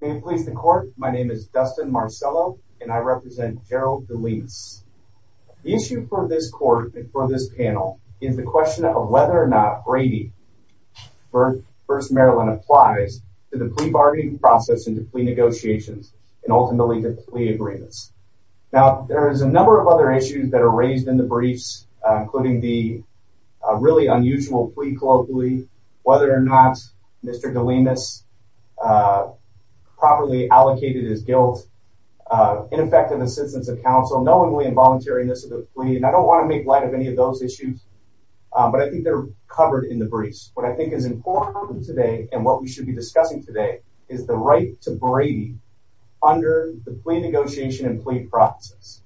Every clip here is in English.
May it please the court, my name is Dustin Marcello and I represent Gerald Delemus. The issue for this court and for this panel is the question of whether or not Brady v. First Maryland applies to the plea bargaining process and to plea negotiations and ultimately to plea agreements. Now there is a number of other issues that are raised in the briefs including the really unusual plea colloquially, whether or not Mr. Delemus properly allocated his guilt, ineffective assistance of counsel, knowingly involuntariness of the plea, and I don't want to make light of any of those issues, but I think they're covered in the briefs. What I think is important today and what we should be discussing today is the right to Brady under the plea negotiation and plea process.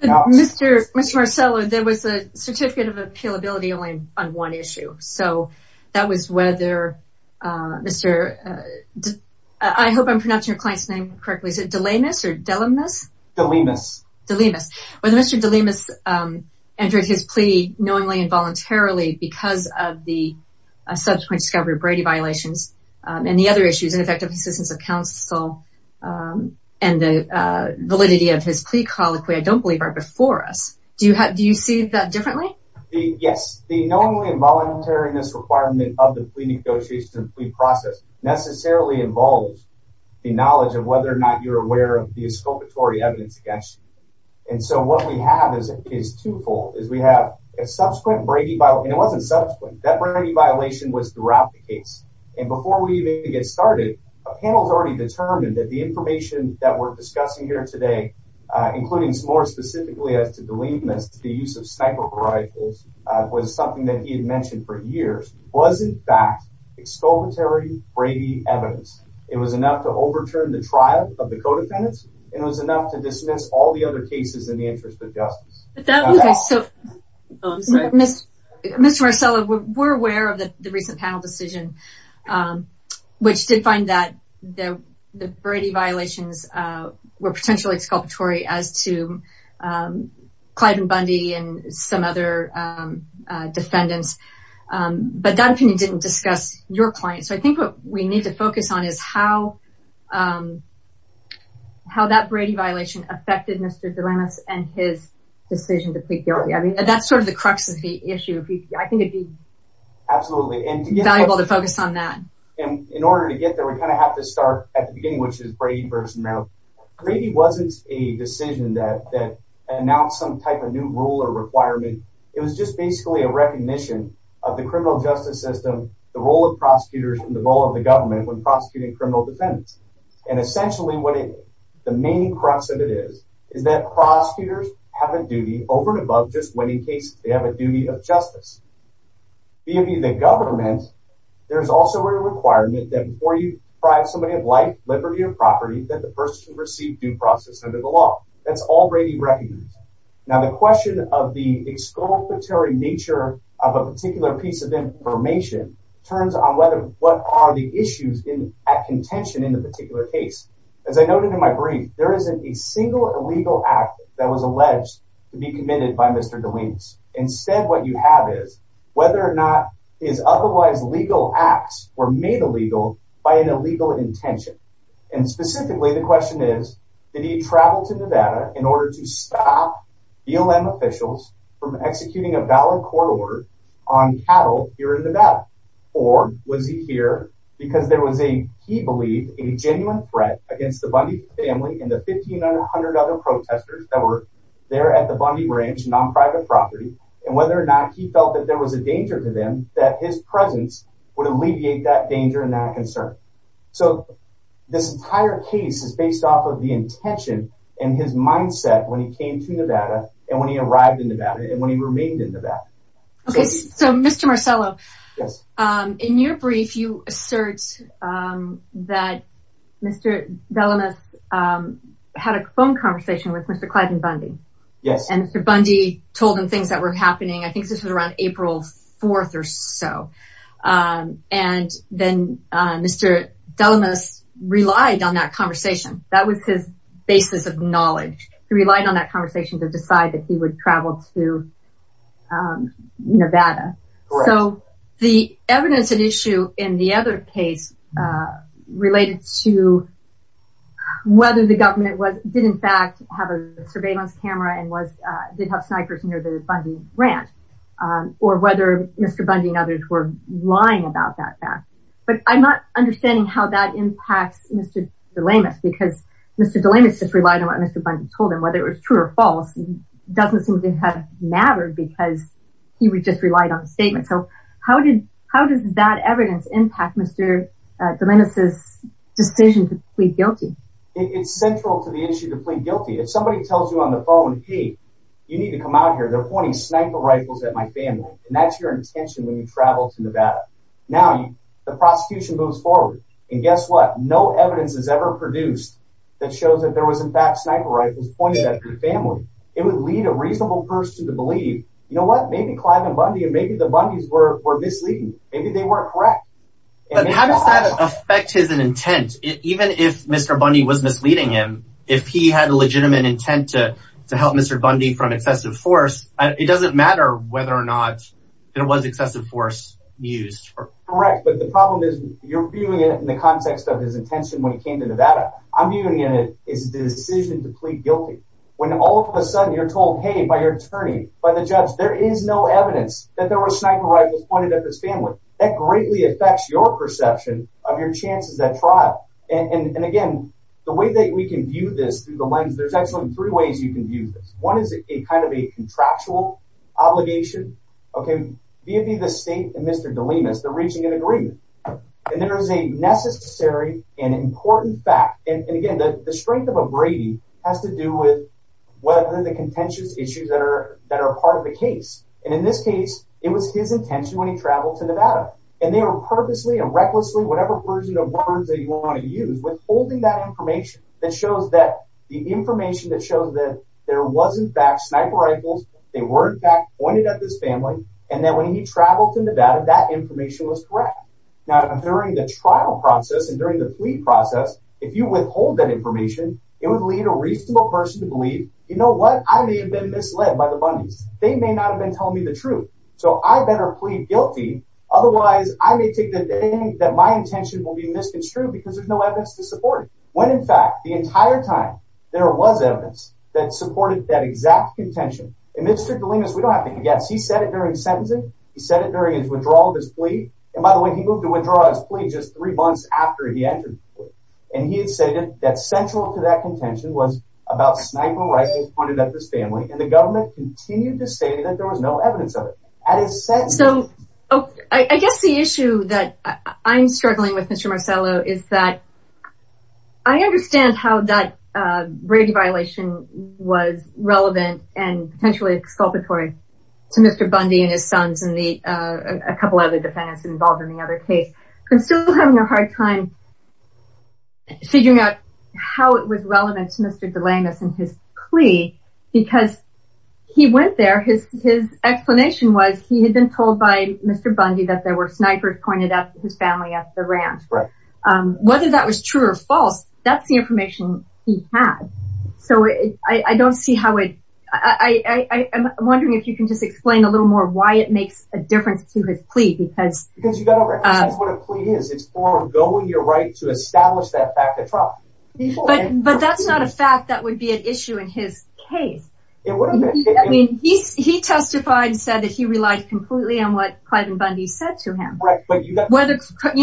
Mr. Marcello, there was a certificate of appealability only on one issue, so that was whether Mr. Delemus, I hope I'm pronouncing your client's name correctly, is it Delemus or Delemus? Delemus. Whether Mr. Delemus entered his plea knowingly involuntarily because of the subsequent discovery of Brady violations and the other issues, ineffective assistance of counsel and the validity of his plea colloquy, I don't believe are before us. Do you see that differently? Yes, the knowingly involuntariness requirement of the plea negotiation and plea process necessarily involves the knowledge of whether or not you're aware of the exculpatory evidence against you. And so what we have is twofold, is we have a subsequent Brady violation, and it wasn't subsequent, that Brady violation was throughout the case. And before we even get started, a panel's already determined that the information that we're discussing here today, including more specifically as to Delemus, the use of sniper rifles, was something that he had mentioned for years, was in fact exculpatory Brady evidence. It was enough to overturn the trial of the co-defendants, and it was enough to dismiss all the other cases in the interest of justice. But that was, so, Mr. Marcello, we're aware of the recent panel decision, which did find that the Brady violations were potentially exculpatory as to Clyde and Bundy and some other defendants, but that opinion didn't discuss your client. So I think what we need to focus on is how that Brady violation affected Mr. Delemus and his decision to plead guilty. I mean, that's sort of the crux of the we kind of have to start at the beginning, which is Brady versus Merrill. Brady wasn't a decision that announced some type of new rule or requirement. It was just basically a recognition of the criminal justice system, the role of prosecutors, and the role of the government when prosecuting criminal defendants. And essentially what it, the main crux of it is, is that prosecutors have a duty over and above just winning cases. They have a duty of justice. B of E, the government, there's also a requirement that before you deprive somebody of life, liberty, or property, that the person receive due process under the law. That's all Brady recognizes. Now the question of the exculpatory nature of a particular piece of information turns on whether, what are the issues in, at contention in the particular case. As I noted in my brief, there isn't a single illegal act that was alleged to be committed by Mr. Delemus. Instead, what you have is, whether or not his otherwise legal acts were made illegal by an illegal intention. And specifically, the question is, did he travel to Nevada in order to stop BLM officials from executing a valid court order on cattle here in Nevada? Or was he here because there was a, he believed, a genuine threat against the Bundy family and the 1,500 other protesters that were there at the Bundy Ranch, non-private property, and whether or not he felt that there was a danger to them, that his presence would alleviate that danger and that concern. So this entire case is based off of the intention and his mindset when he came to Nevada, and when he arrived in Nevada, and when he remained in Nevada. Okay, so Mr. Marcello, in your brief, you assert that Mr. Delemus had a phone conversation with Mr. Clyde and Bundy. Yes. And Mr. Bundy told him things that were happening, I think this was around April 4th or so, and then Mr. Delemus relied on that conversation. That was his basis of knowledge. He relied on that conversation to decide that he would travel to Nevada. So the evidence at issue in the other case related to whether the government did, in fact, have a surveillance camera and did have snipers near the Bundy Ranch, or whether Mr. Bundy and others were lying about that fact. But I'm not understanding how that impacts Mr. Delemus, because Mr. Delemus just relied on what Mr. Bundy told him. Whether it was true or false doesn't seem to have mattered, because he would just relied on the statement. So how did that evidence impact Mr. Delemus's decision to plead guilty? It's central to the issue to plead guilty. If somebody tells you on the phone, hey, you need to come out here, they're pointing sniper rifles at my family, and that's your intention when you travel to Nevada. Now, the prosecution moves forward, and guess what? No evidence has ever produced that shows that there was, in fact, sniper rifles pointed at your family. It would lead a reasonable person to believe, you know what, maybe Clyde and Bundy and the Bundys were misleading. Maybe they weren't correct. But how does that affect his intent? Even if Mr. Bundy was misleading him, if he had a legitimate intent to help Mr. Bundy from excessive force, it doesn't matter whether or not it was excessive force used. Correct, but the problem is you're viewing it in the context of his intention when he came to Nevada. I'm viewing it as his decision to plead guilty. When all of a sudden you're told, hey, by your attorney, by the judge, there is no evidence that there were sniper rifles pointed at his family. That greatly affects your perception of your chances at trial. And again, the way that we can view this through the lens, there's actually three ways you can view this. One is a kind of a contractual obligation. Okay, via the state and Mr. Delimas, they're reaching an agreement. And there is a necessary and important fact, and again, the contentious issues that are that are part of the case. And in this case, it was his intention when he traveled to Nevada, and they were purposely and recklessly, whatever version of words that you want to use withholding that information that shows that the information that shows that there was, in fact, sniper rifles, they were, in fact, pointed at this family. And then when he traveled to Nevada, that information was correct. Now, during the trial process and during the plea process, if you withhold that believe, you know what, I may have been misled by the Bundy's. They may not have been telling me the truth. So I better plead guilty. Otherwise, I may take the day that my intention will be misconstrued because there's no evidence to support it. When in fact, the entire time, there was evidence that supported that exact contention. And Mr. Delimas, we don't have to guess. He said it during sentencing. He said it during his withdrawal of his plea. And by the way, he moved to withdraw his plea just three months after he entered. And he stated that central to that contention was about sniper rifles pointed at this family. And the government continued to say that there was no evidence of it. So, I guess the issue that I'm struggling with, Mr. Marcello, is that I understand how that rape violation was relevant and potentially exculpatory to Mr. Bundy and his sons and a couple other defendants involved in the other case. I'm still having a hard time figuring out how it was relevant to Mr. Delimas and his plea. Because he went there, his explanation was he had been told by Mr. Bundy that there were snipers pointed at his family at the ranch. Whether that was true or false, that's the information he had. So I don't see how it... I'm wondering if you can just explain a little more why it is what a plea is. It's foregoing your right to establish that fact of trial. But that's not a fact that would be an issue in his case. He testified and said that he relied completely on what Clive and Bundy said to him. Whether Clive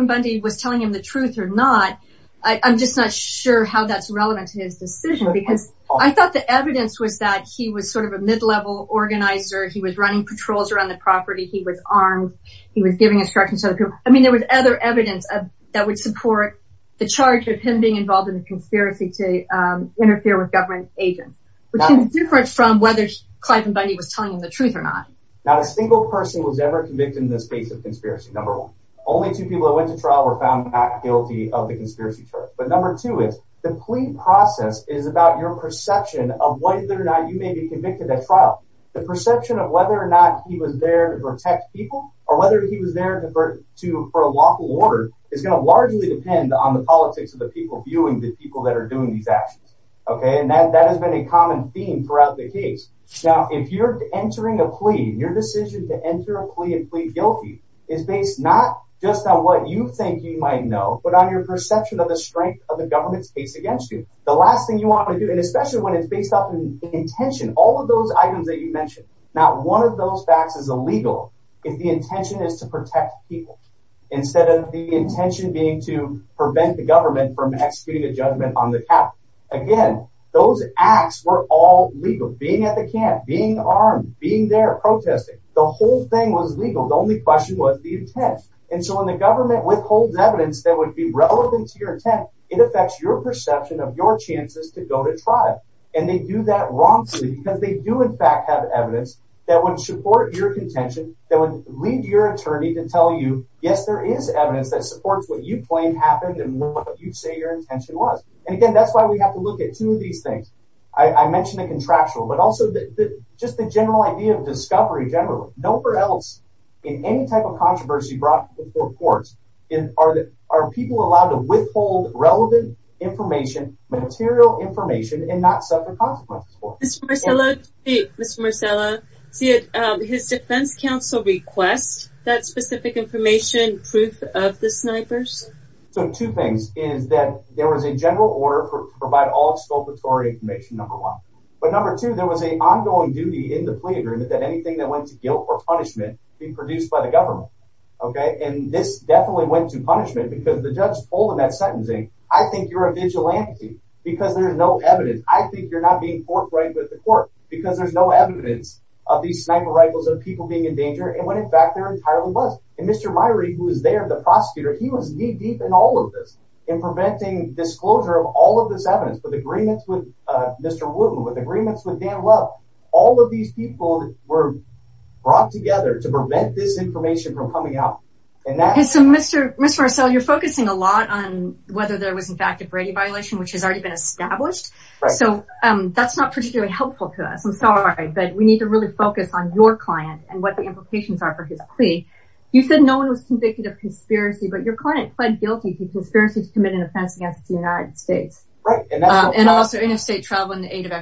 and Bundy was telling him the truth or not, I'm just not sure how that's relevant to his decision. Because I thought the evidence was that he was sort of a mid-level organizer. He was running patrols around the property. He was giving instructions to other people. I mean, there was other evidence that would support the charge of him being involved in a conspiracy to interfere with government agents. Which is different from whether Clive and Bundy was telling him the truth or not. Not a single person was ever convicted in this case of conspiracy, number one. Only two people that went to trial were found not guilty of the conspiracy charge. But number two is, the plea process is about your perception of whether or not you may be convicted at trial. The perception of whether or not he was there to protect people, or whether he was there for a lawful order, is going to largely depend on the politics of the people viewing the people that are doing these actions. Okay? And that has been a common theme throughout the case. Now, if you're entering a plea, your decision to enter a plea and plead guilty is based not just on what you think you might know, but on your perception of the strength of the government's case against you. The last thing you want to do, and especially when it's based on intention, all of those items that you mentioned. Now, one of those facts is illegal, if the intention is to protect people, instead of the intention being to prevent the government from executing a judgment on the count. Again, those acts were all legal. Being at the camp, being armed, being there protesting, the whole thing was legal. The only question was the intent. And so when the government withholds evidence that would be relevant to your intent, it affects your perception of your chances to go to trial. And they do that wrongfully, because they do in fact have evidence that would support your contention, that would lead your attorney to tell you, yes, there is evidence that supports what you claim happened and what you say your intention was. And again, that's why we have to look at two of these things. I mentioned the contractual, but also that just the general idea of discovery, generally. Nowhere else in any type of controversy brought before courts are people allowed to withhold relevant information, material information, and not suffer consequences for it. Mr. Marcella, his defense counsel requests that specific information, proof of the snipers? So two things, is that there was a general order to provide all exculpatory information, number one. But number two, there was an ongoing duty in the plea agreement that anything that went to guilt or punishment be produced by the government, okay? And this definitely went to punishment, because the judge told him that sentencing, I think you're a vigilante, because there's no evidence. I think you're not being fought right with the court, because there's no evidence of these sniper rifles of people being in danger, and when in fact there entirely was. And Mr. Myrie, who is there, the prosecutor, he was knee-deep in all of this, in preventing disclosure of all of this evidence, with agreements with Mr. Wooten, with agreements with Dan Love. All of these people were brought together to prevent this information from coming out. And so Mr. Marcella, you're focusing a lot on whether there was in fact a Brady violation, which has already been helpful to us. I'm sorry, but we need to really focus on your client and what the implications are for his plea. You said no one was convicted of conspiracy, but your client pled guilty to conspiracy to commit an offense against the United States. And also interstate travel and the aid of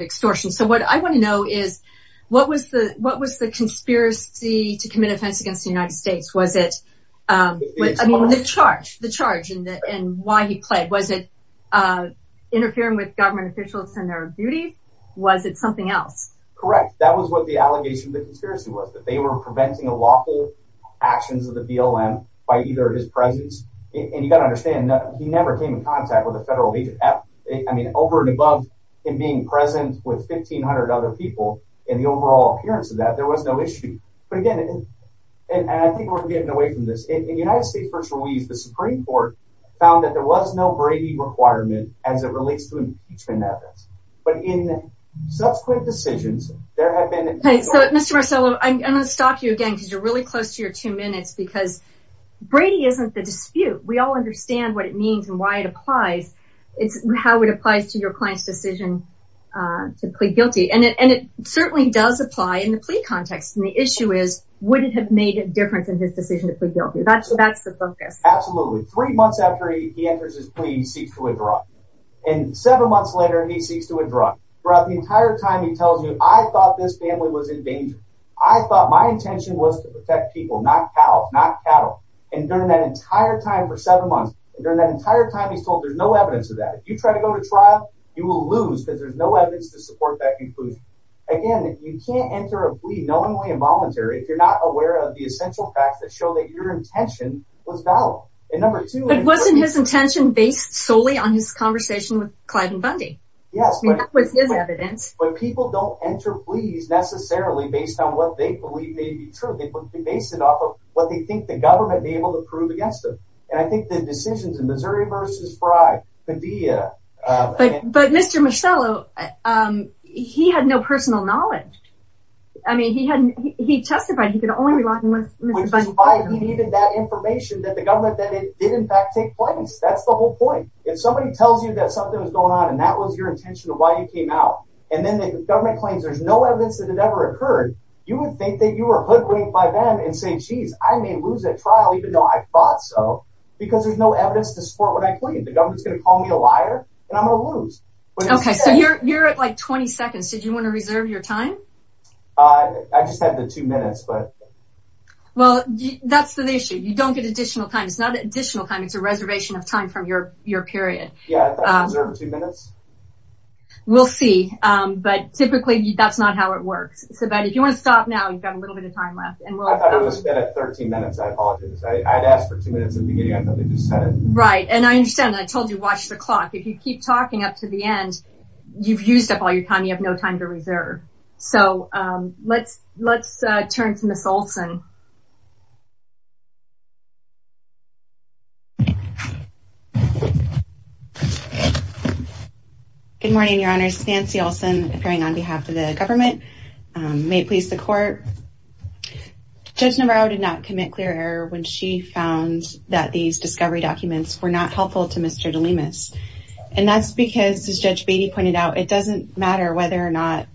extortion. So what I want to know is, what was the conspiracy to commit offense against the United States? Was it, I mean, the charge, the charge, and why he pled? Was it with government officials and their duty? Was it something else? Correct. That was what the allegation of the conspiracy was, that they were preventing illegal actions of the BLM by either his presence. And you got to understand, he never came in contact with a federal agent. I mean, over and above him being present with 1,500 other people, in the overall appearance of that, there was no issue. But again, and I think we're getting away from this, in United States v. Ruiz, the Supreme Court found that there was no Brady requirement as it was in the impeachment evidence. But in subsequent decisions, there have been... Mr. Marcello, I'm going to stop you again because you're really close to your two minutes, because Brady isn't the dispute. We all understand what it means and why it applies. It's how it applies to your client's decision to plead guilty. And it certainly does apply in the plea context. And the issue is, would it have made a difference in his decision to plead guilty? That's the focus. Absolutely. Three months after he enters his plea, he seeks to withdraw. And seven months later, he seeks to withdraw. Throughout the entire time, he tells you, I thought this family was in danger. I thought my intention was to protect people, not cows, not cattle. And during that entire time, for seven months, and during that entire time, he's told there's no evidence of that. If you try to go to trial, you will lose because there's no evidence to support that conclusion. Again, you can't enter a plea knowingly and voluntarily if you're not aware of the essential facts that show that your intention was valid. And number Yes. But people don't enter pleas necessarily based on what they believe may be true. They base it off of what they think the government may be able to prove against them. And I think the decisions in Missouri v. Frye could be... But Mr. Michello, he had no personal knowledge. I mean, he testified he could only rely on Mr. Fundy. Which is why he needed that information that the government that it did in fact take place. That's the whole point. If somebody tells you that something was going on, and that was your intention of why you came out, and then the government claims there's no evidence that it ever occurred, you would think that you were hoodwinked by them and say, geez, I may lose that trial even though I thought so, because there's no evidence to support what I claimed. The government's gonna call me a liar, and I'm gonna lose. Okay, so you're at like 20 seconds. Did you want to reserve your time? I just had the two minutes, but... Well, that's the issue. You don't get additional time. It's not Yeah, I thought I reserved two minutes. We'll see, but typically that's not how it works. So, but if you want to stop now, you've got a little bit of time left. I thought it was 13 minutes. I apologize. I had asked for two minutes at the beginning. I thought they just said it. Right, and I understand. I told you, watch the clock. If you keep talking up to the end, you've used up all your time. You have no time to reserve. So, let's let's turn to Miss Olson. Good morning, Your Honors. Nancy Olson, appearing on behalf of the government. May it please the Court. Judge Navarro did not commit clear error when she found that these discovery documents were not helpful to Mr. DeLemus, and that's because, as Judge Beatty pointed out, it doesn't matter whether or not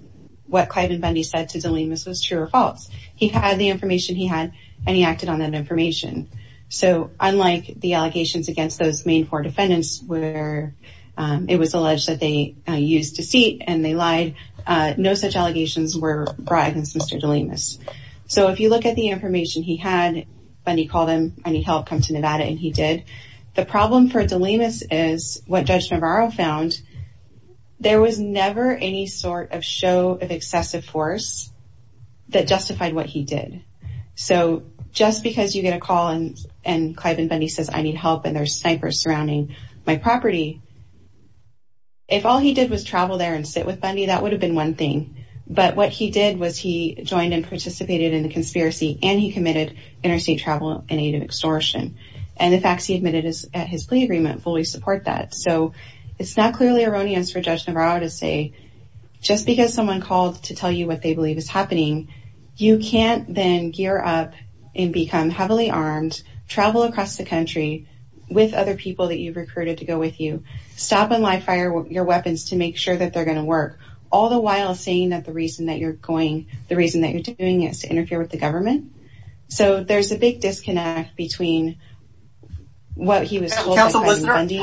what Clive and Bundy said to DeLemus was true or false. He had the information he had, and he acted on that information. So, unlike the allegations against those main four defendants, where it was alleged that they used deceit and they lied, no such allegations were brought against Mr. DeLemus. So, if you look at the information he had, Bundy called him and he helped come to Nevada, and he did. The problem for DeLemus is what Judge Navarro found. There was never any sort of show of excessive force that justified what he did. So, just because you get a call and and Clive and Bundy says, I need help, and there's snipers surrounding my property, if all he did was travel there and sit with Bundy, that would have been one thing. But what he did was he joined and participated in the conspiracy, and he committed interstate travel in aid of extortion. And the facts he admitted at his plea agreement fully support that. So, it's not clearly erroneous for Judge Navarro to say, just because someone called to tell you what they believe is happening, you can't then gear up and become heavily armed, travel across the country with other people that you've recruited to go with you, stop and live fire your weapons to make sure that they're going to work, all the while saying that the reason that you're going, the reason that you're doing is to interfere with the government. So, there's a big disconnect between what he was told by Clive and Bundy.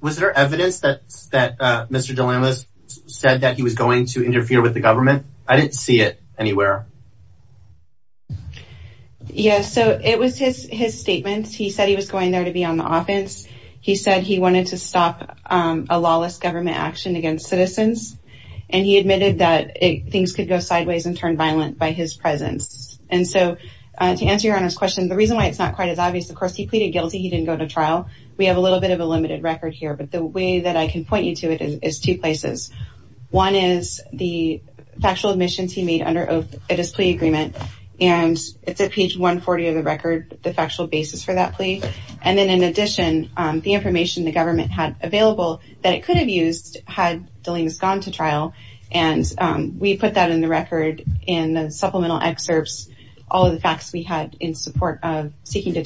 Was there evidence that Mr. DeLamas said that he was going to interfere with the government? I didn't see it anywhere. Yeah, so it was his statement. He said he was going there to be on the offense. He said he wanted to stop a lawless government action against citizens, and he admitted that things could go sideways and turn violent by his presence. And so, to answer your Honor's question, the reason why it's not quite as obvious, of course, he pleaded guilty, he didn't go to trial. We have a little bit of a limited record here, but the way that I can point you to it is two places. One is the factual admissions he made under oath at his plea agreement, and it's at page 140 of the record, the factual basis for that plea. And then, in addition, the information the government had available that it could have used had DeLamas gone to trial, and we put that in the record in the supplemental excerpts, all of the facts we had in support of that plea agreement.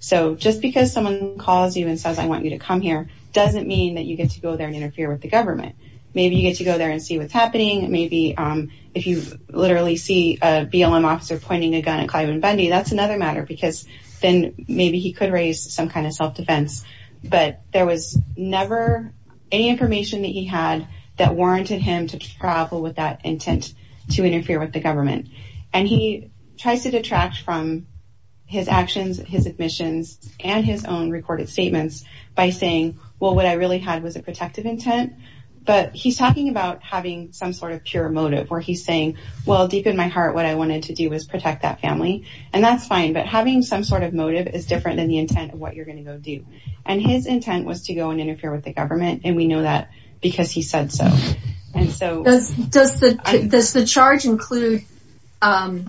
So, just because someone calls you and says, I want you to come here, doesn't mean that you get to go there and interfere with the government. Maybe you get to go there and see what's happening. Maybe if you literally see a BLM officer pointing a gun at Clyde and Bundy, that's another matter, because then maybe he could raise some kind of self-defense. But there was never any information that he had that warranted him to travel with that intent to interfere with the government. And he tries to detract from his actions, his admissions, and his own recorded statements by saying, well, what I really had was a protective intent. But he's talking about having some sort of pure motive, where he's saying, well, deep in my heart, what I wanted to do was protect that family. And that's fine, but having some sort of motive is different than the intent of what you're going to go do. And his intent was to go and interfere with the government, and we know that because he said so. Does the charge include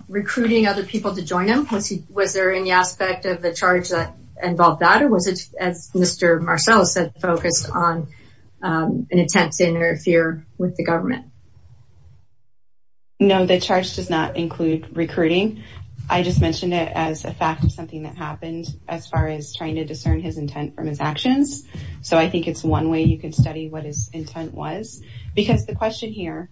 recruiting other people to join him? Was there any aspect of the charge that involved that? Or was it, as Mr. Marcel said, focused on an attempt to interfere with the government? No, the charge does not as far as trying to discern his intent from his actions. So I think it's one way you could study what his intent was. Because the question here,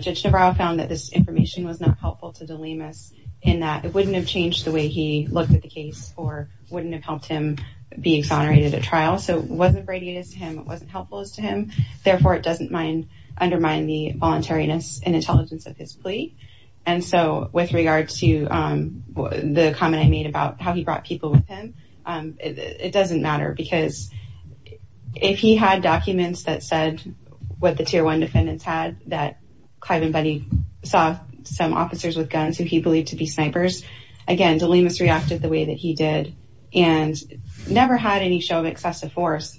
Judge Navarro found that this information was not helpful to de Limas, in that it wouldn't have changed the way he looked at the case, or wouldn't have helped him be exonerated at trial. So it wasn't radiated to him, it wasn't helpful as to him. Therefore, it doesn't undermine the voluntariness and intelligence of his plea. And so with regard to the comment I made about how he brought people with him, it doesn't matter. Because if he had documents that said what the tier one defendants had, that Clive and Buddy saw some officers with guns who he believed to be snipers, again, de Limas reacted the way that he did, and never had any show of excessive force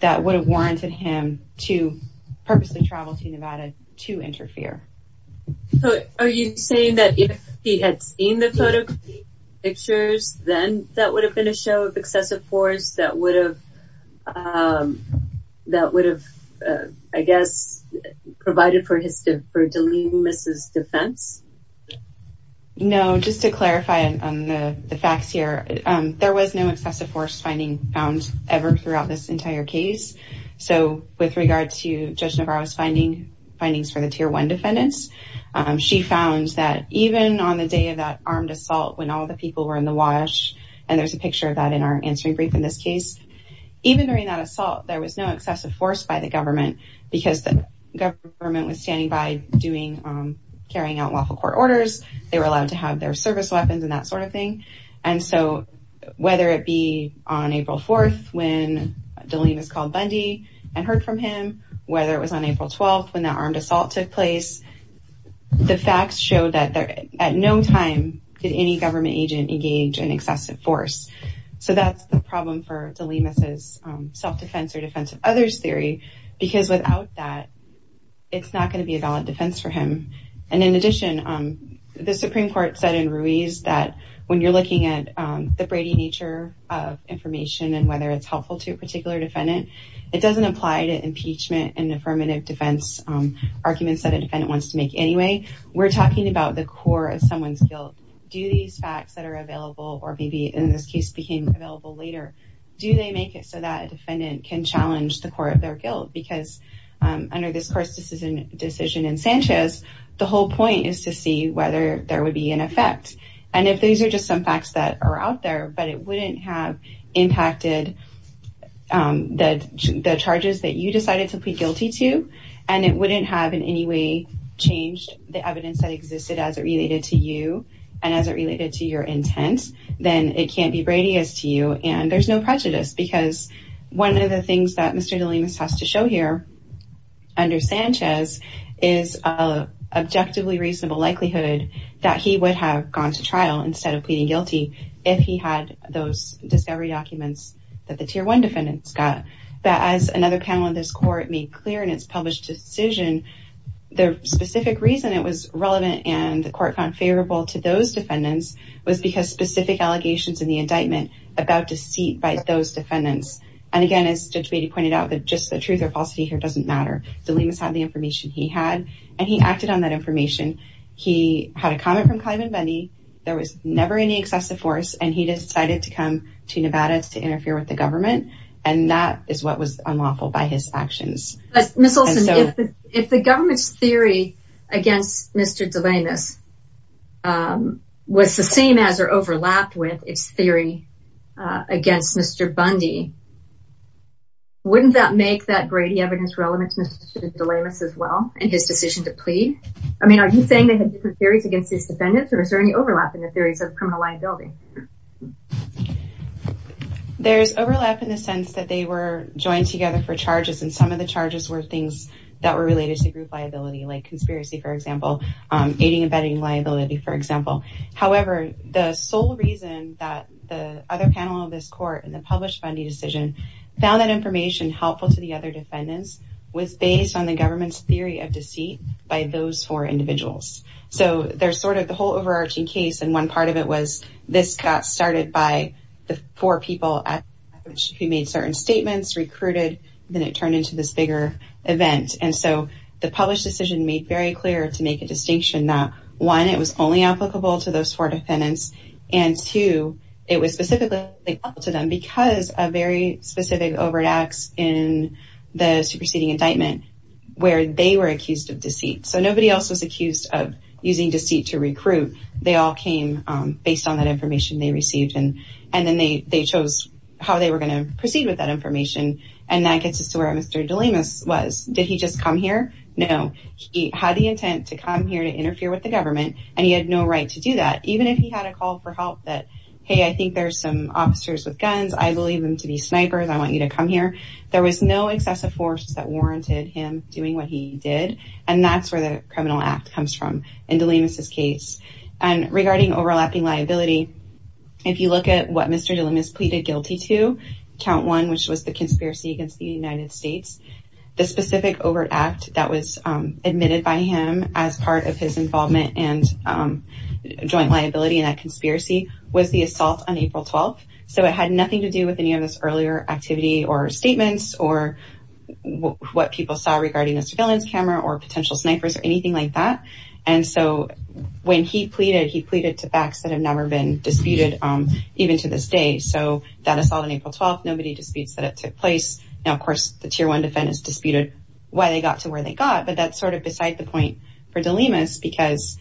that would have warranted him to purposely travel to Nevada to interfere. So are you saying that if he had seen the photo pictures, then that would have been a show of excessive force that would have, that would have, I guess, provided for his, for de Limas' defense? No, just to clarify on the facts here, there was no excessive force finding found ever throughout this entire case. So with regard to Judge Navarro's findings for the tier one defendants, she found that even on the day of that armed assault, when all the people were in the wash, and there's a picture of that in our answering brief in this case, even during that assault, there was no excessive force by the government, because the government was standing by doing, carrying out lawful court orders, they were allowed to have their service weapons and that de Limas called Bundy and heard from him, whether it was on April 12, when that armed assault took place, the facts show that there at no time did any government agent engage in excessive force. So that's the problem for de Limas' self-defense or defensive others theory, because without that, it's not going to be a valid defense for him. And in addition, the Supreme Court said in Ruiz that when you're looking at the Brady nature of information and whether it's helpful to a particular defendant, it doesn't apply to impeachment and affirmative defense arguments that a defendant wants to make anyway. We're talking about the core of someone's guilt. Do these facts that are available, or maybe in this case became available later, do they make it so that a defendant can challenge the core of their guilt? Because under this court's decision in Sanchez, the whole point is to see whether there would be an effect. And if these are just some facts that are out there, but it wouldn't have impacted the charges that you decided to plead guilty to, and it wouldn't have in any way changed the evidence that existed as it related to you and as it related to your intent, then it can't be Brady as to you. And there's no prejudice because one of the things that Mr. Delimas has to show here under Sanchez is a objectively reasonable likelihood that he would have gone to trial instead of pleading guilty if he had those discovery documents that the tier one defendants got. But as another panel in this court made clear in its published decision, the specific reason it was relevant and the court found favorable to those defendants. And again, as Judge Brady pointed out, that just the truth or falsity here doesn't matter. Delimas had the information he had, and he acted on that information. He had a comment from Clyburn Bundy. There was never any excessive force, and he decided to come to Nevada to interfere with the government, and that is what was unlawful by his actions. Ms. Olson, if the government's theory against Mr. Delimas was the same as or overlapped with its theory against Mr. Bundy, wouldn't that make that Brady evidence relevant to Mr. Delimas as well in his decision to plead? I mean, are you saying they had different theories against these defendants, or is there any overlap in the theories of criminal liability? There's overlap in the sense that they were joined together for charges, and some of the charges were that were related to group liability, like conspiracy, for example, aiding and abetting liability, for example. However, the sole reason that the other panel of this court in the published Bundy decision found that information helpful to the other defendants was based on the government's theory of deceit by those four individuals. So there's sort of the whole overarching case, and one part of it was this got started by the four people who made certain statements, recruited, then it turned into this bigger event. And so the published decision made very clear to make a distinction that, one, it was only applicable to those four defendants, and two, it was specifically applicable to them because of very specific overt acts in the superseding indictment where they were accused of deceit. So nobody else was accused of using deceit to recruit. They all came based on that information they received, and then they chose how they were going to proceed with that information. And that gets us to where Mr. Delimas was. Did he just come here? No. He had the intent to come here to interfere with the government, and he had no right to do that, even if he had a call for help that, hey, I think there's some officers with guns. I believe them to be snipers. I want you to come here. There was no excessive force that warranted him doing what he did, and that's where the criminal act comes from in Delimas's case. And regarding overlapping liability, if you look at what Mr. Delimas pleaded guilty to, count one, which was the conspiracy against the United States, the specific overt act that was admitted by him as part of his involvement and joint liability in that conspiracy was the assault on April 12th. So it had nothing to do with any of this earlier activity or statements or what people saw regarding Mr. Delimas's camera or potential snipers or anything like that. And so when he pleaded, he pleaded to facts that have never been disputed even to this day. So that assault on April 12th, nobody disputes that it took place. Now, of course, the tier one defendants disputed why they got to where they got, but that's sort of beside the point for Delimas because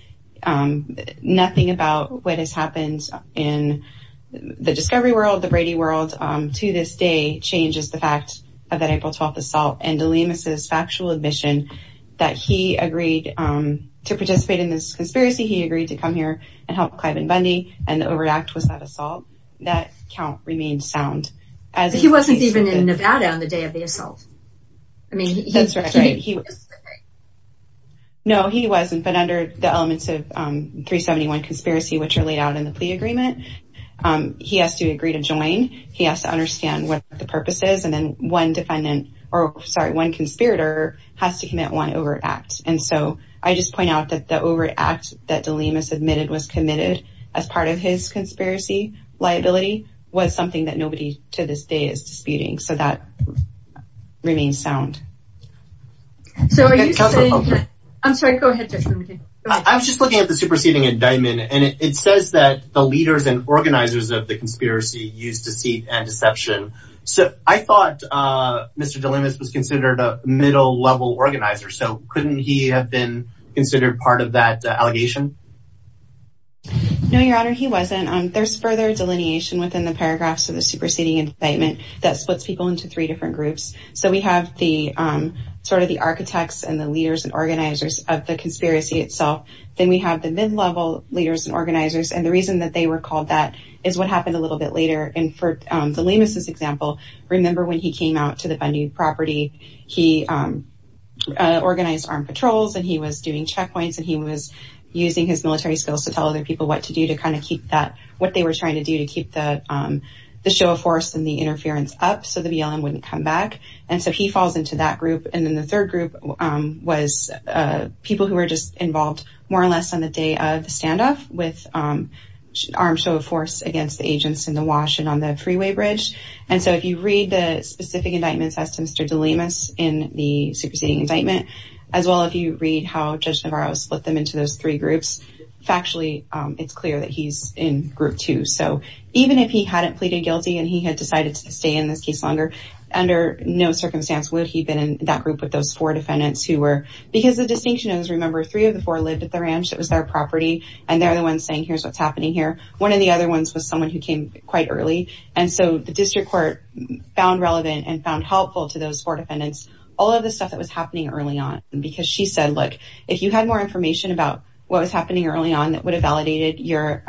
nothing about what has happened in the discovery world, the Brady world, to this day, changes the fact of that April 12th assault. And Delimas's factual admission that he agreed to participate in this conspiracy. He agreed to come here and help Clive and Bundy and the overt act was that assault. That count remained sound. He wasn't even in Nevada on the day of the assault. No, he wasn't. But under the elements of 371 conspiracy, which are laid out in the plea agreement, he has to agree to join. He has to understand what the purpose is. And then one defendant or sorry, one conspirator has to commit one overt act. And so I just point out that the overt act that Delimas admitted was committed as part of his conspiracy liability was something that nobody to this day is disputing. So that remains sound. So are you saying, I'm sorry, go ahead. I was just looking at the superseding indictment, and it says that the leaders and organizers of the conspiracy use deceit and deception. So I thought Mr. Delimas was considered a middle level organizer. So couldn't he have been considered part of that allegation? No, your honor, he wasn't. There's further delineation within the paragraphs of the superseding indictment that splits people into three different groups. So we have the sort of the architects and the leaders and organizers of the conspiracy itself. Then we have the mid-level leaders and organizers. And the reason that they were called that is what happened a little bit later. And for Delimas's example, remember when he came out to the Bundy property, he organized armed patrols and he was doing checkpoints and he was using his military skills to tell other people what to do to kind of keep that what they were trying to do to keep the show of force and the interference up so the BLM wouldn't come back. And so he falls into that group. And then the third group was people who were just involved more or less on the day of the standoff with armed show of force against the agents in the wash and on the freeway bridge. And so if you read the specific indictments as to Mr. Delimas in the superseding indictment, as well, if you read how Judge Navarro split them into those three groups, factually, it's clear that he's in group two. So even if he hadn't pleaded guilty and he had decided to stay in this case longer, under no circumstance would he been in that group with those four defendants who were, because the distinction is remember three of the four lived at the ranch that was their property and they're the ones saying, here's what's happening here. One of the other ones was someone who came quite early. And so the district court found relevant and found helpful to those four defendants, all of the stuff that was happening early on. And because she said, look, if you had more information about what was happening early on, that would have validated your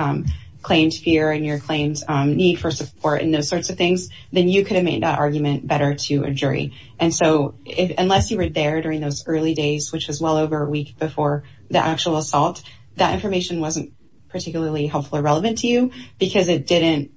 claimed fear and your claims need for support and those sorts of things, then you could have made that argument better to a jury. And so unless you were there during those early days, which was well over a week before the actual assault, that information wasn't particularly helpful or relevant to you because it didn't,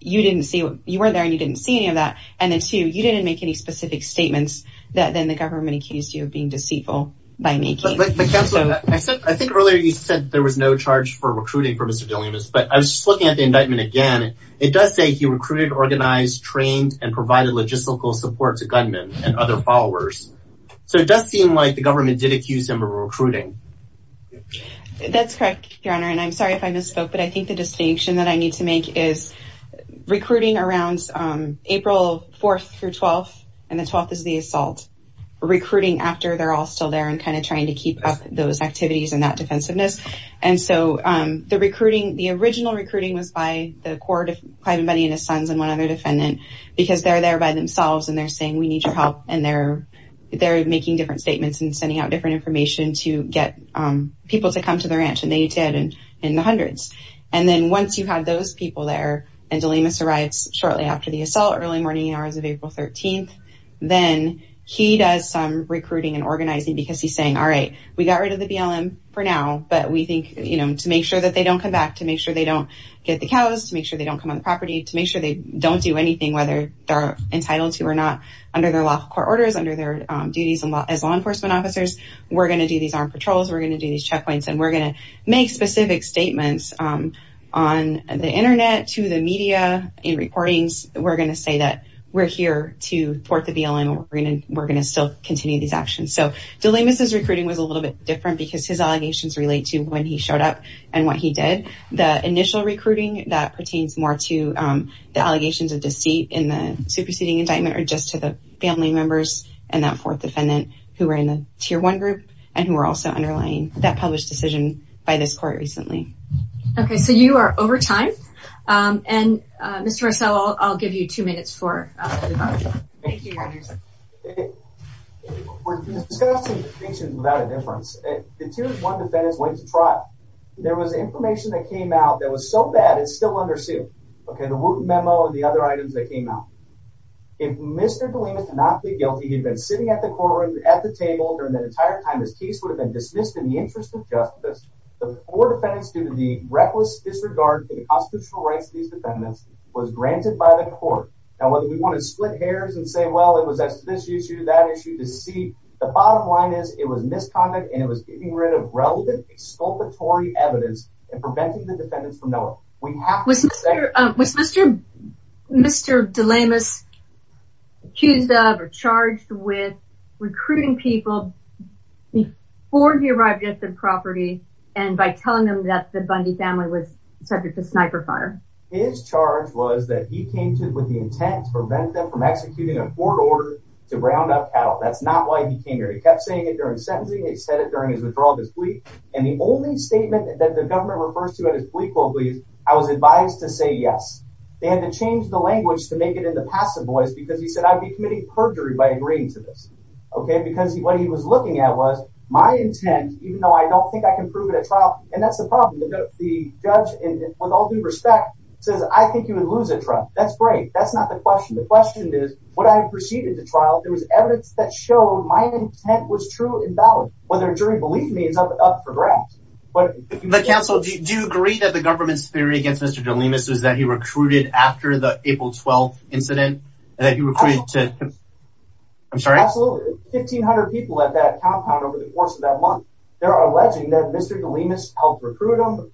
you didn't see, you weren't there and you didn't see any of that. And then too, you didn't make any specific statements that then the government accused you of being deceitful by making. I think earlier you said there was no charge for recruiting for Mr. Delimas, but I was just looking at the indictment again. It does say he recruited, organized, trained and provided logistical support to gunmen and other followers. So it does seem like the government did accuse him of recruiting. That's correct, your honor. And I'm sorry if I misspoke, but I think the distinction that I need to make is recruiting around April 4th through 12th and the 12th is the assault recruiting after they're all still there and kind of trying to keep up those activities and that defensiveness. And so the recruiting, the original recruiting was by the court of Clyde and Bunny and his sons and one other defendant, because they're there by themselves and they're saying, we need your help. And they're, they're making different statements and sending out different information to get people to come to the ranch and they need to add in the hundreds. And then once you had those people there and Delimas arrives shortly after the assault early morning hours of April 13th, then he does some recruiting and organizing because he's saying, all right, we got rid of the BLM for now, but we think, you know, to make sure that they don't come back, to make sure they don't get the cows, to make sure they don't come on the property, to make sure they don't do anything, whether they're entitled to or not under their lawful court orders, under their duties as law enforcement officers, we're going to do these armed patrols, we're going to do these checkpoints, and we're going to make specific statements on the internet, to the media, in reportings. We're going to say that we're here to thwart the BLM, and we're going to, we're going to still continue these actions. So Delimas's recruiting was a and what he did. The initial recruiting that pertains more to the allegations of deceit in the superseding indictment, or just to the family members and that fourth defendant who were in the tier one group, and who were also underlying that published decision by this court recently. Okay, so you are over time, and Mr. Marcello, I'll give you two minutes for you. We're discussing statements without a difference. The tier one defendants went to trial. There was information that came out that was so bad it's still under suit. Okay, the root memo and the other items that came out. If Mr. Delimas did not plead guilty, he'd been sitting at the courtroom at the table during the entire time this case would have been dismissed in the interest of justice. The four defendants, due to the reckless disregard for the constitutional rights of these defendants, was granted by the court. Now, whether we want to split hairs and say, well, it was this issue, that issue, deceit, the bottom line is it was misconduct and it was getting rid of relevant exculpatory evidence and preventing the defendants from knowing. Was Mr. Delimas accused of or charged with recruiting people before he arrived at the and by telling them that the Bundy family was subject to sniper fire? His charge was that he came to with the intent to prevent them from executing a court order to round up cattle. That's not why he came here. He kept saying it during sentencing. He said it during his withdrawal of his plea. And the only statement that the government refers to in his plea is, I was advised to say yes. They had to change the language to make it in the passive voice because he said I'd be committing perjury by agreeing to this. Okay, because what he was looking at was my intent, even though I don't think I can prove it at trial. And that's the problem. The judge, with all due respect, says, I think you would lose a trial. That's great. That's not the question. The question is what I proceeded to trial. There was evidence that showed my intent was true and valid. Whether a jury believed me is up for grabs. But counsel, do you agree that the government's theory against Mr. Delimas is that he recruited after the April 12th incident that you were created to? I'm sorry. Absolutely. 1,500 people at that compound over the course of that month. They're alleging that Mr. Delimas helped recruit them,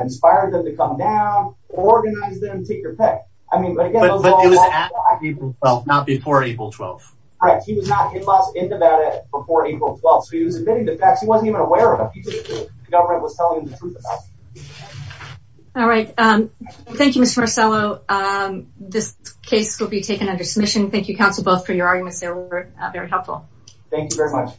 inspired them to come down, organize them, take your pick. I mean, but again, But it was at April 12th, not before April 12th. Right. He was not in Nevada before April 12th. So he was admitting the facts. He wasn't even aware of it. The government was telling him the truth about it. All right. Thank you, Mr. Marcello. This case will be taken under submission. Thank you, counsel, both for your arguments. They were very helpful. Thank you very much.